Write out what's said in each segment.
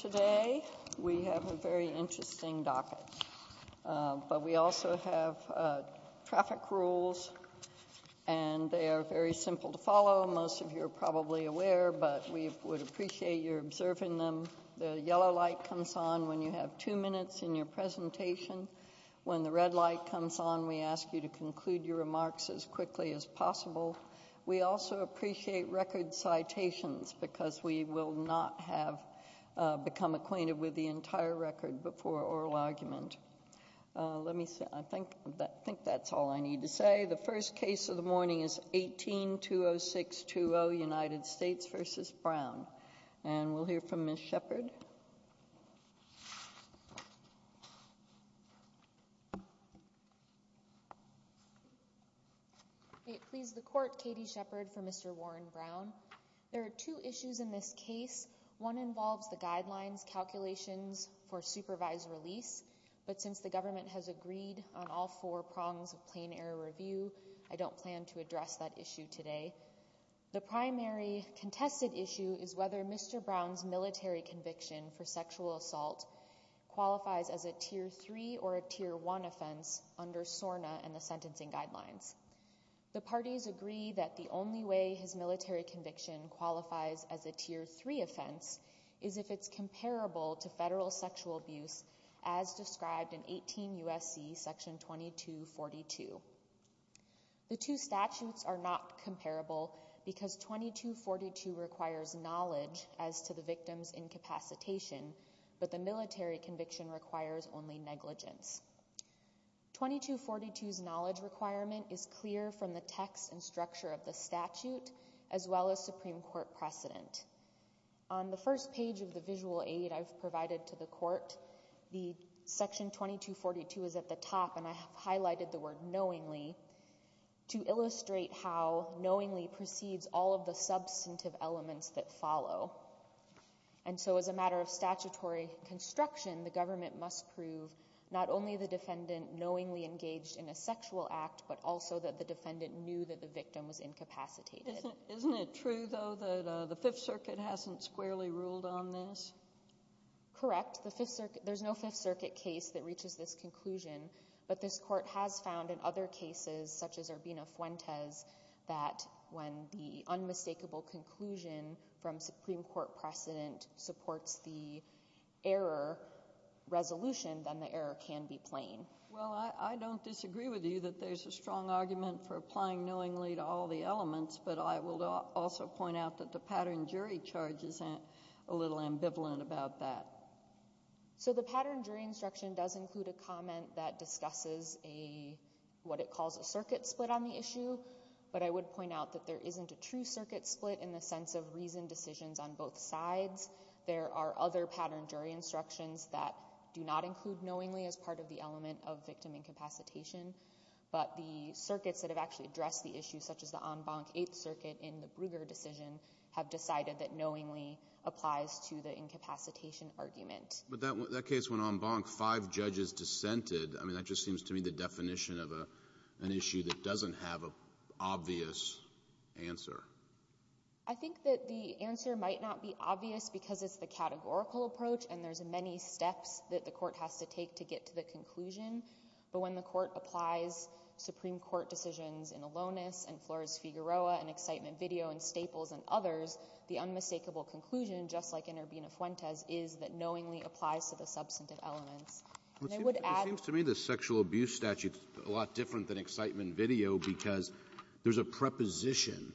Today we have a very interesting docket, but we also have traffic rules, and they are very simple to follow. Most of you are probably aware, but we would appreciate your observing them. The yellow light comes on when you have two minutes in your presentation. When the red light comes on, we ask you to conclude your remarks as quickly as possible. We also appreciate record citations, because we will not have become acquainted with the entire record before oral argument. Let me see. I think that's all I need to say. The first case of the morning is 18-20620, United States v. Brown. And we'll hear from Ms. Shepard. Ms. Shepard, please proceed. Please the court, Katie Shepard for Mr. Warren Brown. There are two issues in this case. One involves the guidelines calculations for supervised release. But since the government has agreed on all four prongs of plain error review, I don't plan to address that issue today. The primary contested issue is whether Mr. Brown's military conviction for sexual assault qualifies as a tier three or a tier one offense under SORNA and the sentencing guidelines. The parties agree that the only way his military conviction qualifies as a tier three offense is if it's comparable to federal sexual abuse as described in 18 U.S.C. section 2242. The two statutes are not comparable because 2242 requires knowledge as to the victim's incapacitation, but the military conviction requires only negligence. 2242's knowledge requirement is clear from the text and structure of the statute as well as Supreme Court precedent. On the first page of the visual aid I've provided to the court, the section 2242 is at the top and I have highlighted the word knowingly to illustrate how knowingly precedes all of the substantive elements that follow. And so as a matter of statutory construction, the government must prove not only the defendant knowingly engaged in a sexual act, but also that the defendant knew that the victim was incapacitated. Isn't it true though that the Fifth Circuit hasn't squarely ruled on this? Correct. There's no Fifth Circuit case that reaches this conclusion, but this court has found in other cases such as Urbina-Fuentes that when the unmistakable conclusion from Supreme Court precedent supports the error resolution, then the error can be plain. Well, I don't disagree with you that there's a strong argument for applying knowingly to all the elements, but I will also point out that the pattern jury charge is a little ambivalent about that. So the pattern jury instruction does include a comment that discusses a, what it calls a circuit split on the issue, but I would point out that there isn't a true circuit split in the sense of reasoned decisions on both sides. There are other pattern jury instructions that do not include knowingly as part of the element of victim incapacitation, but the circuits that have actually addressed the issue such as the En Banc Eighth Circuit in the Brugger decision have decided that knowingly applies to the incapacitation argument. But that case, when En Banc, five judges dissented, I mean, that just seems to me the definition of an issue that doesn't have an obvious answer. I think that the answer might not be obvious because it's the categorical approach and there's many steps that the court has to take to get to the conclusion, but when the court applies Supreme Court decisions in Alonis and Flores-Figueroa and Excitement Video and just like in Urbina-Fuentes is that knowingly applies to the substantive elements. And it would add to the statute. Alitoson It seems to me the sexual abuse statute is a lot different than Excitement Video because there's a preposition.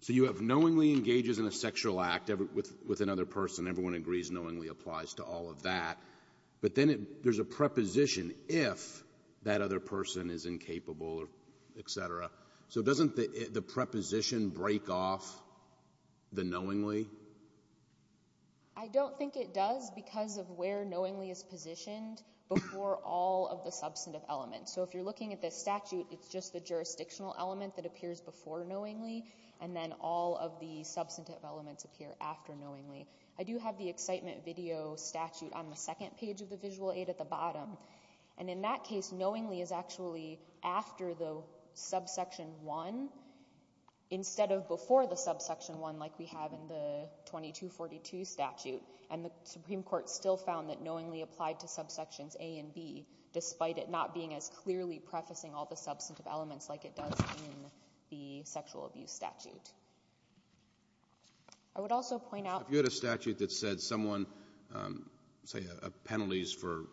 So you have knowingly engages in a sexual act with another person. Everyone agrees knowingly applies to all of that. But then there's a preposition if that other person is incapable, et cetera. So doesn't the preposition break off the knowingly? O'Connell I don't think it does because of where knowingly is positioned before all of the substantive elements. So if you're looking at the statute, it's just the jurisdictional element that appears before knowingly, and then all of the substantive elements appear after knowingly. I do have the Excitement Video statute on the second page of the visual aid at the bottom. And in that case, knowingly is actually after the subsection one instead of before the subsection one like we have in the 2242 statute. And the Supreme Court still found that knowingly applied to subsections A and B despite it not being as clearly prefacing all the substantive elements like it does in the sexual abuse statute. I would also point out- There's a statute that said someone, say a penalty is for,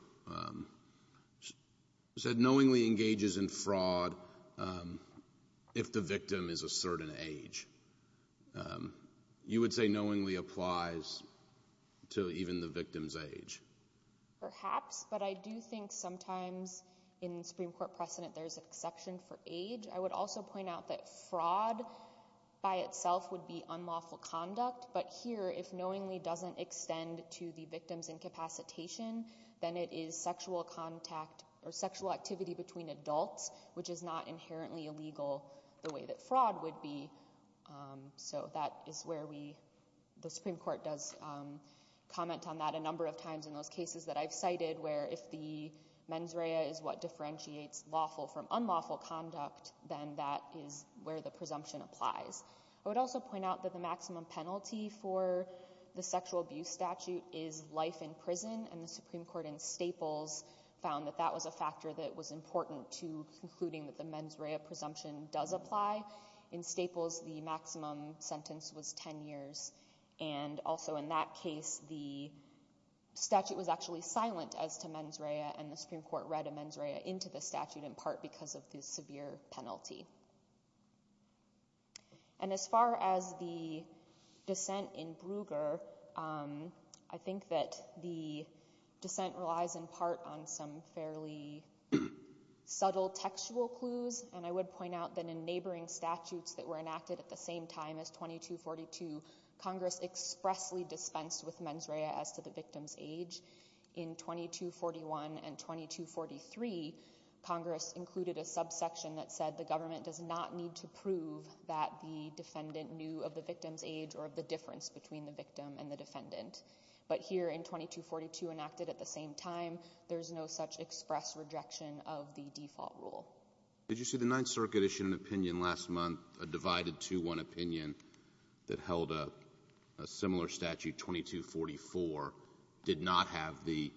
said knowingly engages in fraud if the victim is a certain age. You would say knowingly applies to even the victim's age? Perhaps, but I do think sometimes in Supreme Court precedent there's an exception for age. I would also point out that fraud by itself would be unlawful conduct. But here, if knowingly doesn't extend to the victim's incapacitation, then it is sexual contact or sexual activity between adults, which is not inherently illegal the way that fraud would be. So that is where we, the Supreme Court does comment on that a number of times in those cases that I've cited where if the mens rea is what differentiates lawful from unlawful conduct, then that is where the presumption applies. I would also point out that the maximum penalty for the sexual abuse statute is life in prison. And the Supreme Court in Staples found that that was a factor that was important to concluding that the mens rea presumption does apply. In Staples, the maximum sentence was 10 years. And also in that case, the statute was actually silent as to mens rea and the Supreme Court read a mens rea into the statute in part because of the severe penalty. And as far as the dissent in Bruegger, I think that the dissent relies in part on some fairly subtle textual clues. And I would point out that in neighboring statutes that were enacted at the same time as 2242, Congress expressly dispensed with mens rea as to the victim's age. In 2241 and 2243, Congress included a subsection that said the government does not need to prove that the defendant knew of the victim's age or of the difference between the victim and the defendant. But here in 2242 enacted at the same time, there is no such express rejection of the default rule. Did you see the Ninth Circuit issued an opinion last month, a divided 2-1 opinion that held a similar statute, 2244, did not have the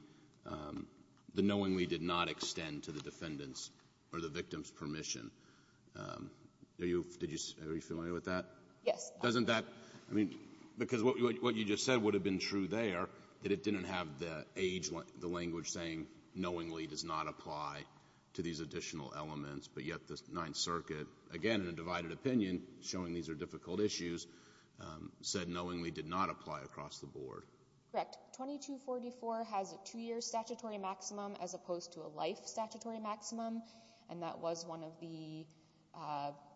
the knowingly did not extend to the defendant's or the victim's permission. Are you familiar with that? Yes. Doesn't that, I mean, because what you just said would have been true there, that it didn't have the age, the language saying knowingly does not apply to these additional elements. But yet the Ninth Circuit, again, in a divided opinion showing these are difficult issues, said knowingly did not apply across the board. Correct. 2244 has a two-year statutory maximum as opposed to a life statutory maximum. And that was one of the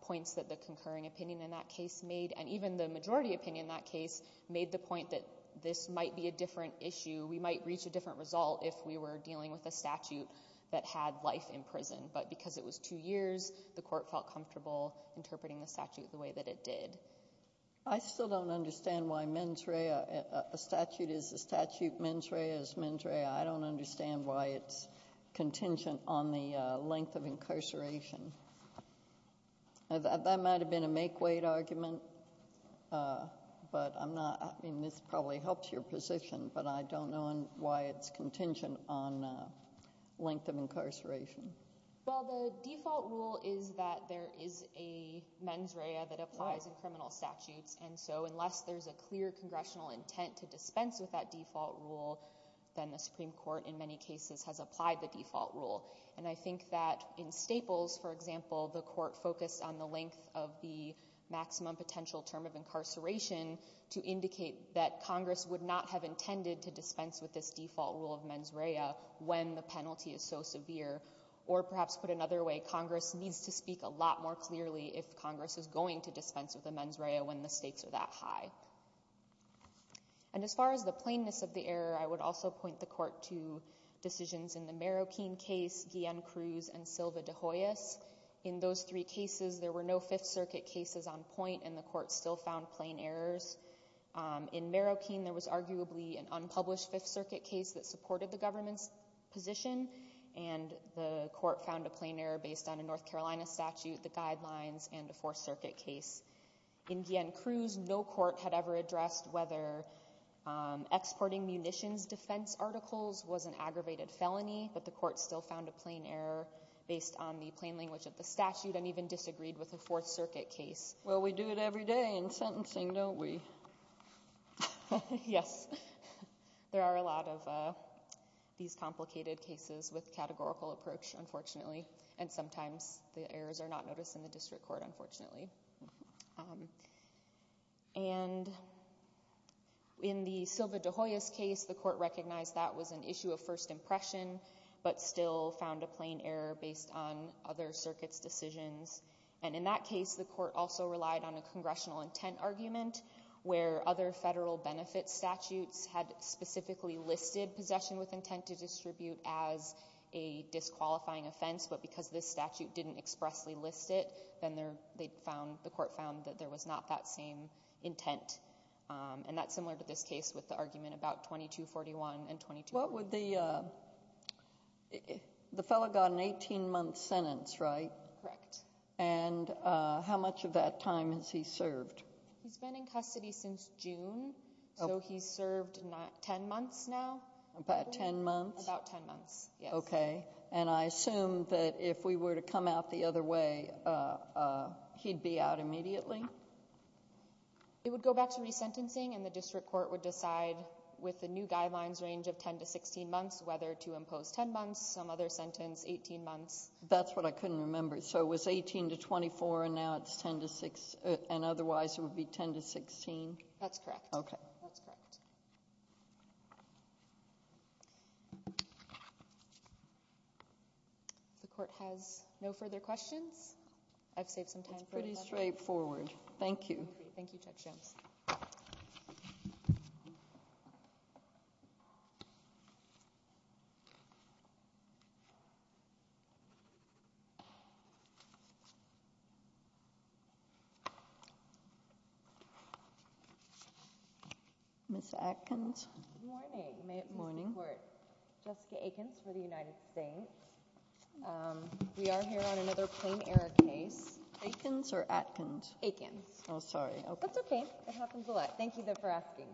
points that the concurring opinion in that case made. And even the majority opinion in that case made the point that this might be a different issue. We might reach a different result if we were dealing with a statute that had life in prison. But because it was two years, the court felt comfortable interpreting the statute the way that it did. I still don't understand why a statute is a statute, mens rea is mens rea. I don't understand why it's contingent on the length of incarceration. That might have been a make-weight argument, but I'm not, I mean, this probably helps your position, but I don't know why it's contingent on length of incarceration. Well, the default rule is that there is a mens rea that applies in criminal statutes. And so unless there's a clear congressional intent to dispense with that default rule, then the Supreme Court in many cases has applied the default rule. And I think that in Staples, for example, the court focused on the length of the maximum potential term of incarceration to indicate that Congress would not have intended to dispense with this default rule of mens rea when the penalty is so severe. Or perhaps put another way, Congress needs to speak a lot more clearly if Congress is going to dispense with the mens rea when the stakes are that high. And as far as the plainness of the error, I would also point the court to decisions in the Marroquin case, Guillen-Cruz and Silva de Hoyos. In those three cases, there were no Fifth Circuit cases on point and the court still found plain errors. In Marroquin, there was arguably an unpublished Fifth Circuit case that supported the government's position, and the court found a plain error based on a North Carolina statute, the guidelines and a Fourth Circuit case. In Guillen-Cruz, no court had ever addressed whether exporting munitions defense articles was an aggravated felony, but the court still found a plain error based on the plain language of the statute and even disagreed with the Fourth Circuit case. Well, we do it every day in sentencing, don't we? Yes, there are a lot of these complicated cases with categorical approach, unfortunately, and sometimes the errors are not noticed in the district court, unfortunately. And in the Silva de Hoyos case, the court recognized that was an issue of first impression, but still found a plain error based on other circuits' decisions. And in that case, the court also relied on a congressional intent argument where other federal benefits statutes had specifically listed possession with intent to distribute as a disqualifying offense, but because this statute didn't expressly list it, then they found, the court found that there was not that same intent. And that's similar to this case with the argument about 2241 and 2241. What would the, the fellow got an 18-month sentence, right? Correct. And how much of that time has he served? He's been in custody since June, so he's served 10 months now. About 10 months? About 10 months, yes. Okay. And I assume that if we were to come out the other way, he'd be out immediately? It would go back to resentencing, and the district court would decide with the new guidelines range of 10 to 16 months whether to impose 10 months, some other sentence, 18 months. That's what I couldn't remember. So it was 18 to 24, and now it's 10 to 6, and otherwise it would be 10 to 16? That's correct. Okay. That's correct. Thank you very much, Judge Schimms. If the court has no further questions, I've saved some time for a question. It's pretty straightforward. Thank you. Okay. Thank you, Judge Schimms. Ms. Atkins? Good morning, Ms. Court. Jessica Atkins for the United States. We are here on another plain error case. Atkins or Atkins? Atkins. Oh, sorry. That's okay. It happens a lot. Thank you, though, for asking.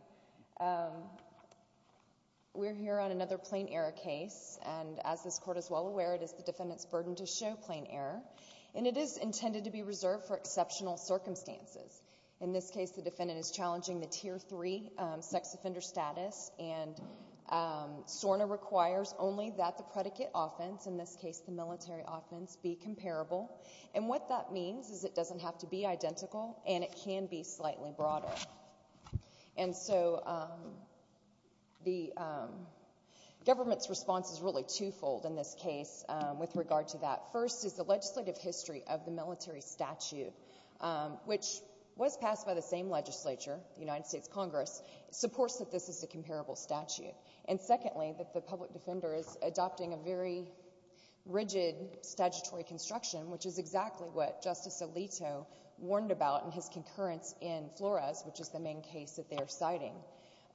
We're here on another plain error case, and as this court is well aware, it is the defendant's burden to show plain error, and it is intended to be reserved for exceptional circumstances. In this case, the defendant is challenging the Tier 3 sex offender status, and SORNA requires only that the predicate offense, in this case the military offense, be comparable. And what that means is it doesn't have to be identical, and it can be slightly broader. And so the government's response is really twofold in this case with regard to that. First is the legislative history of the military statute, which was passed by the same legislature, the United States Congress, supports that this is a comparable statute. And secondly, that the public defender is adopting a very rigid statutory construction, which is exactly what Justice Alito warned about in his concurrence in Flores, which is the main case that they are citing.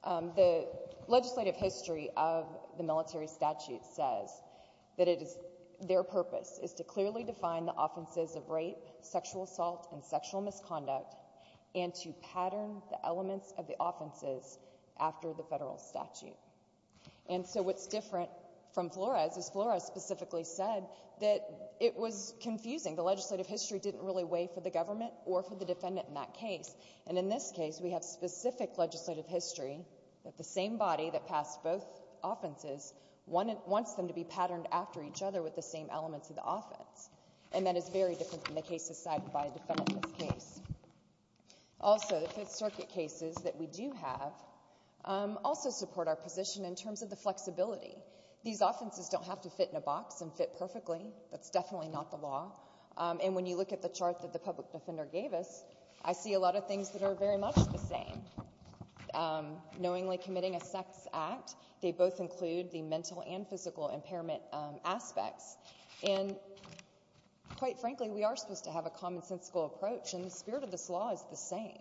The legislative history of the military statute says that it is, their purpose is to clearly define the offenses of rape, sexual assault, and sexual misconduct, and to pattern the elements of the offenses after the federal statute. And so what's different from Flores is Flores specifically said that it was confusing. The legislative history didn't really weigh for the government or for the defendant in that case. And in this case, we have specific legislative history that the same body that passed both offenses wants them to be patterned after each other with the same elements of the offense. And that is very different from the cases cited by a defendant in this case. Also, the Fifth Circuit cases that we do have also support our position in terms of the flexibility. These offenses don't have to fit in a box and fit perfectly. That's definitely not the law. And when you look at the chart that the public defender gave us, I see a lot of things that are very much the same. Knowingly committing a sex act, they both include the mental and physical impairment aspects. And quite frankly, we are supposed to have a commonsensical approach, and the spirit of this law is the same.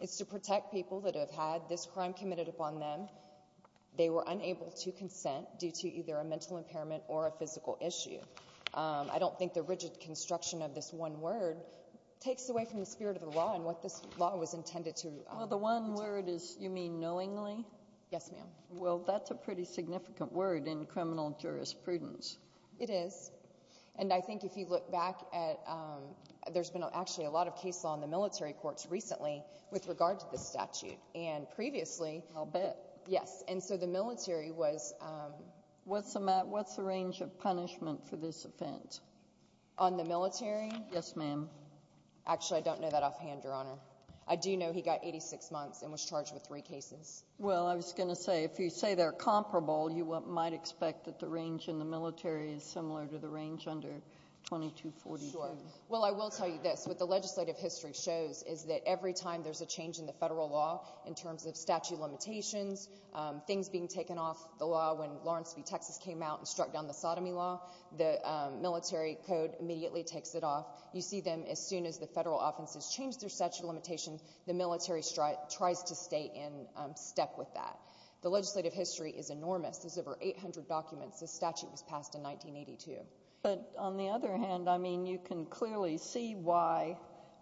It's to protect people that have had this crime committed upon them. They were unable to consent due to either a mental impairment or a physical issue. I don't think the rigid construction of this one word takes away from the spirit of the law and what this law was intended to protect. Well, the one word is you mean knowingly? Yes, ma'am. Well, that's a pretty significant word in criminal jurisprudence. It is. And I think if you look back at, there's been actually a lot of case law in the military courts recently with regard to this statute. And previously. I'll bet. Yes. And so the military was. What's the range of punishment for this offense? On the military? Yes, ma'am. Actually, I don't know that offhand, Your Honor. I do know he got 86 months and was charged with three cases. Well, I was going to say, if you say they're comparable, you might expect that the range in the military is similar to the range under 2242. Well, I will tell you this. What the legislative history shows is that every time there's a change in the federal law in terms of statute limitations, things being taken off the law, when Lawrence v. Texas came out and struck down the sodomy law, the military code immediately takes it off. You see them as soon as the federal offenses changed their statute of limitations, the military tries to stay in step with that. The legislative history is enormous. There's over 800 documents. This statute was passed in 1982. But on the other hand, I mean, you can clearly see why,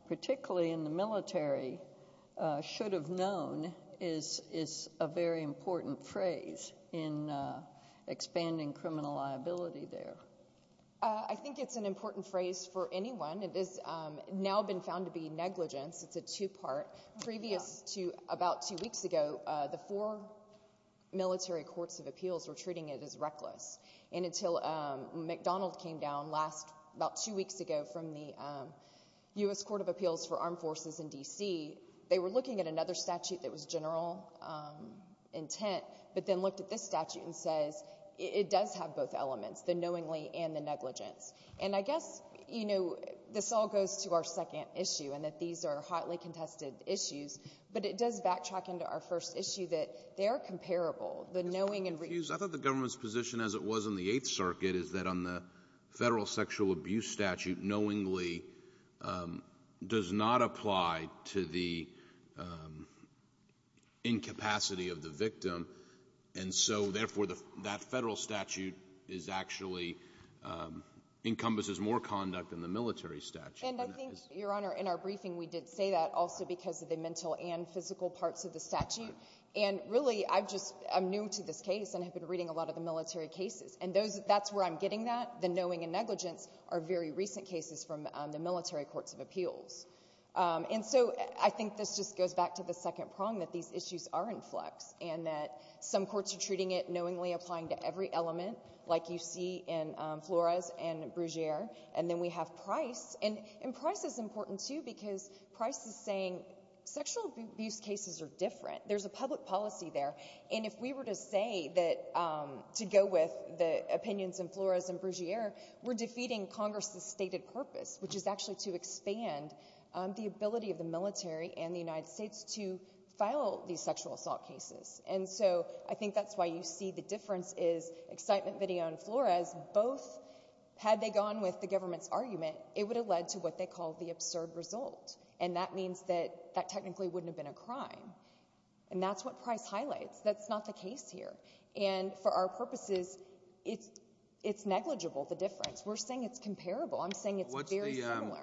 particularly in the state of Texas, should have known is a very important phrase in expanding criminal liability there. I think it's an important phrase for anyone. It is now been found to be negligence. It's a two part. Previous to about two weeks ago, the four military courts of appeals were treating it as reckless. And until McDonald came down last, about two weeks ago from the U.S. Court of Appeals for Armed Forces in D.C., they were looking at another statute that was general intent, but then looked at this statute and says it does have both elements, the knowingly and the negligence. And I guess, you know, this all goes to our second issue and that these are hotly contested issues, but it does backtrack into our first issue that they are comparable. The knowing and the government's position as it was in the Eighth Circuit is that the federal sexual abuse statute knowingly does not apply to the incapacity of the victim, and so, therefore, that federal statute is actually encompasses more conduct than the military statute. And I think, Your Honor, in our briefing, we did say that also because of the mental and physical parts of the statute. And really, I've just — I'm new to this case and have been reading a lot of the military cases. And that's where I'm getting that, the knowing and negligence are very recent cases from the military courts of appeals. And so, I think this just goes back to the second prong that these issues are in flux and that some courts are treating it knowingly, applying to every element, like you see in Flores and Brugere. And then we have Price. And Price is important, too, because Price is saying sexual abuse cases are different. There's a public policy there. And if we were to say that — to go with the opinions in Flores and Brugere, we're defeating Congress's stated purpose, which is actually to expand the ability of the military and the United States to file these sexual assault cases. And so, I think that's why you see the difference is Excitement Video and Flores both, had they gone with the government's argument, it would have led to what they call the absurd result. And that means that that technically wouldn't have been a crime. And that's what Price highlights. That's not the case here. And for our purposes, it's negligible, the difference. We're saying it's comparable. I'm saying it's very similar.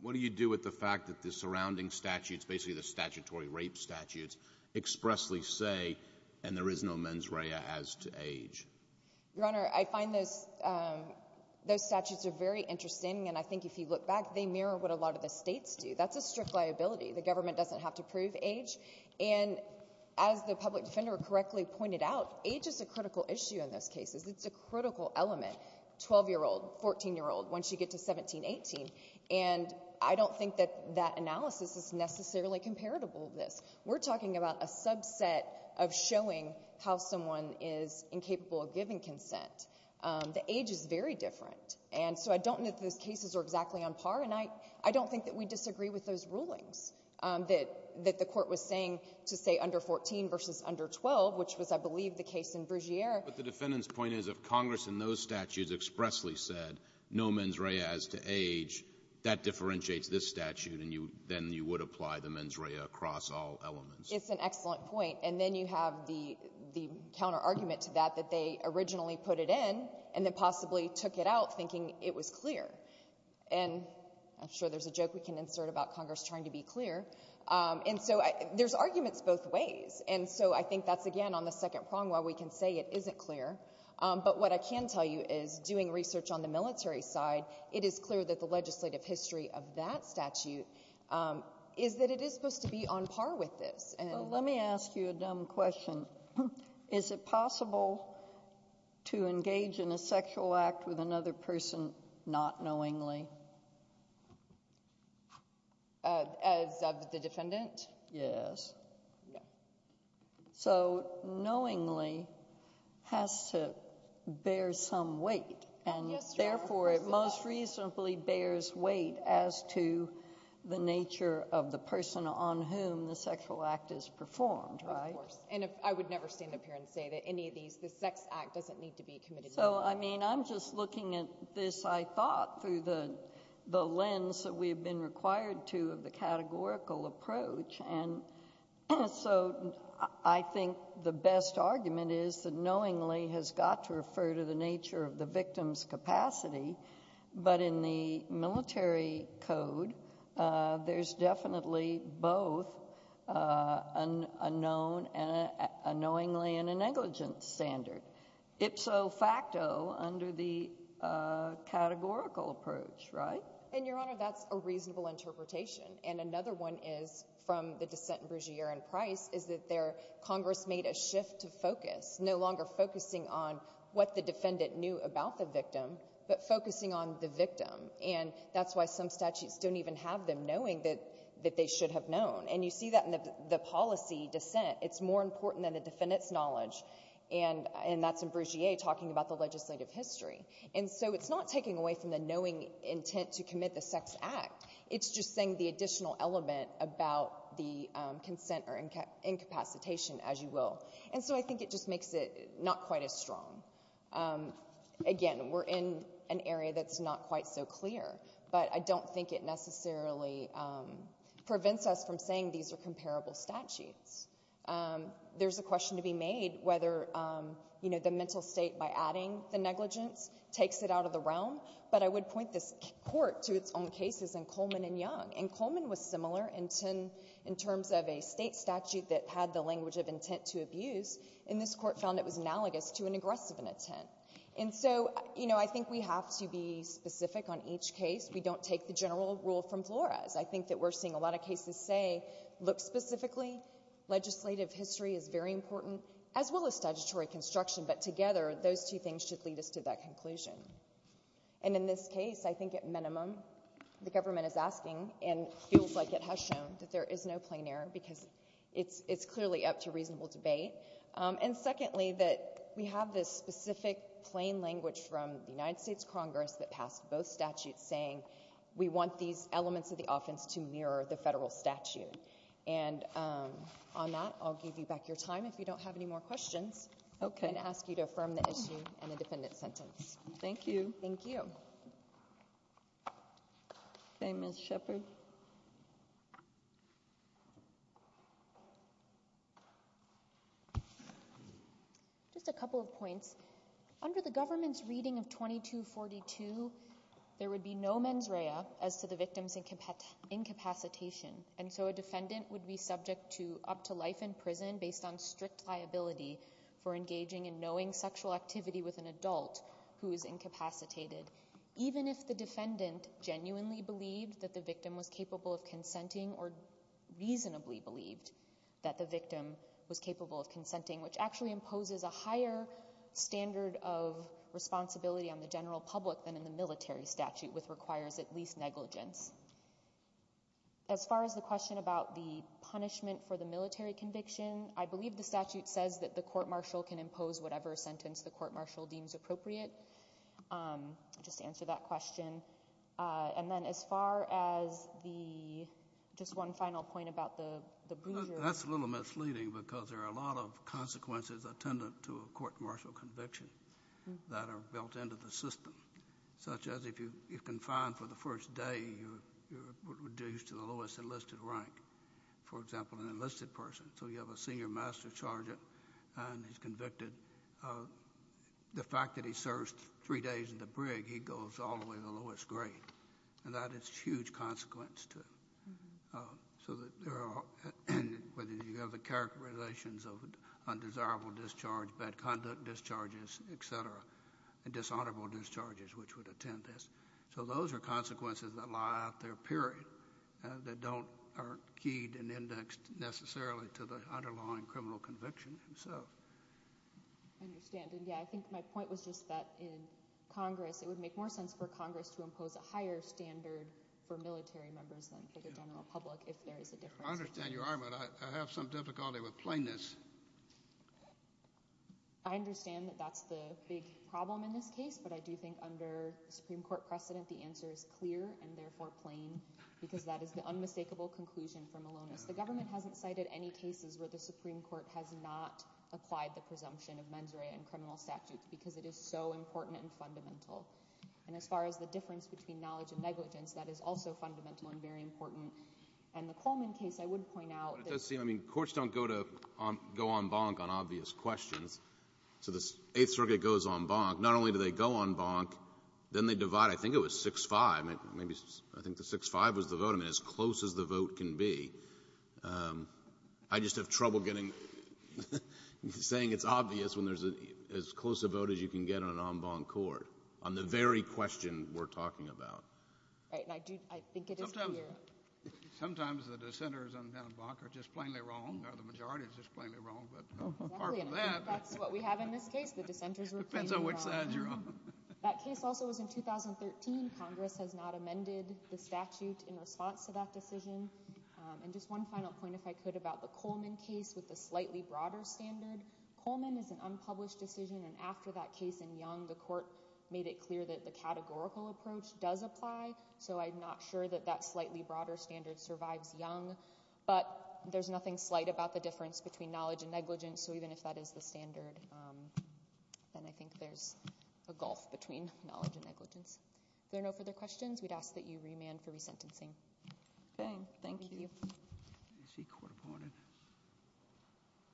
What do you do with the fact that the surrounding statutes, basically the statutory rape statutes, expressly say, and there is no mens rea as to age? Your Honor, I find those statutes are very interesting. And I think if you look back, they mirror what a lot of the states do. That's a strict liability. The government doesn't have to prove age. And as the public defender correctly pointed out, age is a critical issue in those cases. It's a critical element, 12-year-old, 14-year-old, once you get to 17, 18. And I don't think that that analysis is necessarily comparable to this. We're talking about a subset of showing how someone is incapable of giving consent. The age is very different. And so, I don't know if those cases are exactly on par, and I don't think that we to say under 14 versus under 12, which was, I believe, the case in Brugiere. But the defendant's point is, if Congress in those statutes expressly said, no mens rea as to age, that differentiates this statute, and then you would apply the mens rea across all elements. It's an excellent point. And then you have the counter-argument to that, that they originally put it in, and then possibly took it out, thinking it was clear. And I'm sure there's a joke we can insert about Congress trying to be clear. And so, there's arguments both ways. And so, I think that's, again, on the second prong, while we can say it isn't clear, but what I can tell you is, doing research on the military side, it is clear that the legislative history of that statute is that it is supposed to be on par with this. Well, let me ask you a dumb question. Is it possible to engage in a sexual act with another person not knowingly? As of the defendant? Yes. So, knowingly has to bear some weight. And therefore, it most reasonably bears weight as to the nature of the person on whom the sexual act is performed, right? Of course. And I would never stand up here and say that any of these, the sex act doesn't need to be committed. So, I mean, I'm just looking at this, I thought, through the lens that we have been required to of the categorical approach. And so, I think the best argument is that knowingly has got to refer to the nature of the victim's capacity. But in the military code, there's definitely both a known and a knowingly and a negligent standard. Ipso facto under the categorical approach, right? And, Your Honor, that's a reasonable interpretation. And another one is, from the dissent in Brugiere and Price, is that Congress made a shift to focus, no longer focusing on what the defendant knew about the victim, but focusing on the victim. And that's why some statutes don't even have them knowing that they should have known. And you see that in the policy dissent. It's more important than the defendant's knowledge. And that's in Brugiere talking about the legislative history. And so, it's not taking away from the knowing intent to commit the sex act. It's just saying the additional element about the consent or incapacitation, as you will. And so, I think it just makes it not quite as strong. Again, we're in an area that's not quite so clear. But I don't think it necessarily prevents us from saying these are comparable statutes. There's a question to be made whether, you know, the mental state, by adding the negligence, takes it out of the realm. But I would point this Court to its own cases in Coleman and Young. And Coleman was similar in terms of a state statute that had the language of intent to abuse. And this Court found it was analogous to an aggressive intent. And so, you know, I think we have to be specific on each case. We don't take the general rule from Flores. I think that we're seeing a lot of cases say, look specifically, legislative history is very important, as well as statutory construction. But together, those two things should lead us to that conclusion. And in this case, I think at minimum, the government is asking and feels like it has shown that there is no plain error because it's clearly up to reasonable debate. And secondly, that we have this specific plain language from the United States Congress that passed both statutes saying we want these elements of the offense to mirror the federal statute. And on that, I'll give you back your time. If you don't have any more questions, I'm going to ask you to affirm the issue and the defendant's sentence. Thank you. Thank you. Okay, Ms. Shepherd. Just a couple of points. Under the government's reading of 2242, there would be no mens rea as to the victim's incapacitation. And so a defendant would be subject to up to life in prison based on strict liability for engaging in knowing sexual activity with an adult who is incapacitated, even if the defendant genuinely believed that the victim was capable of consenting or reasonably believed that the victim was capable of consenting. So there is no standard of responsibility on the general public than in the military statute, which requires at least negligence. As far as the question about the punishment for the military conviction, I believe the statute says that the court-martial can impose whatever sentence the court-martial deems appropriate. Just to answer that question. And then as far as the, just one final point about the— That's a little misleading because there are a lot of consequences attendant to a court-martial conviction that are built into the system. Such as if you're confined for the first day, you're reduced to the lowest enlisted rank. For example, an enlisted person. So you have a senior master sergeant and he's convicted. The fact that he serves three days in the brig, he goes all the way to the lowest grade. And that is a huge consequence, too. So that there are, whether you have the characterizations of undesirable discharge, bad conduct discharges, et cetera, and dishonorable discharges which would attend this. So those are consequences that lie out there, period. That don't, are keyed and indexed necessarily to the underlying criminal conviction itself. I understand. And yeah, I think my point was just that in Congress, it would make more sense for Congress to impose a higher standard for military members than for the general public if there is a difference. I understand you are, but I have some difficulty with plainness. I understand that that's the big problem in this case, but I do think under the Supreme Court precedent, the answer is clear and therefore plain. Because that is the unmistakable conclusion for Malonis. The government hasn't cited any cases where the Supreme Court has not applied the presumption of mens rea and criminal statutes because it is so important and fundamental. And as far as the difference between knowledge and negligence, that is also fundamental and very important. And the Coleman case, I would point out. But it does seem, I mean, courts don't go on bonk on obvious questions. So the Eighth Circuit goes on bonk. Not only do they go on bonk, then they divide. I think it was 6-5. Maybe, I think the 6-5 was the vote. I mean, as close as the vote can be. I just have trouble getting, saying it's obvious when there's as close a vote as you can get on an en banc court on the very question we're talking about. Right, and I do, I think it is clear. Sometimes, sometimes the dissenters on en banc are just plainly wrong. The majority is just plainly wrong. But apart from that. That's what we have in this case. The dissenters were plainly wrong. That case also was in 2013. Congress has not amended the statute in response to that decision. And just one final point, if I could, about the Coleman case with the slightly broader standard. Coleman is an unpublished decision. And after that case in Young, the court made it clear that the categorical approach does apply. So I'm not sure that that slightly broader standard survives Young. But there's nothing slight about the difference between knowledge and negligence. So even if that is the standard, then I think there's a gulf between knowledge and negligence. If there are no further questions, we'd ask that you remand for resentencing. Okay, thank you.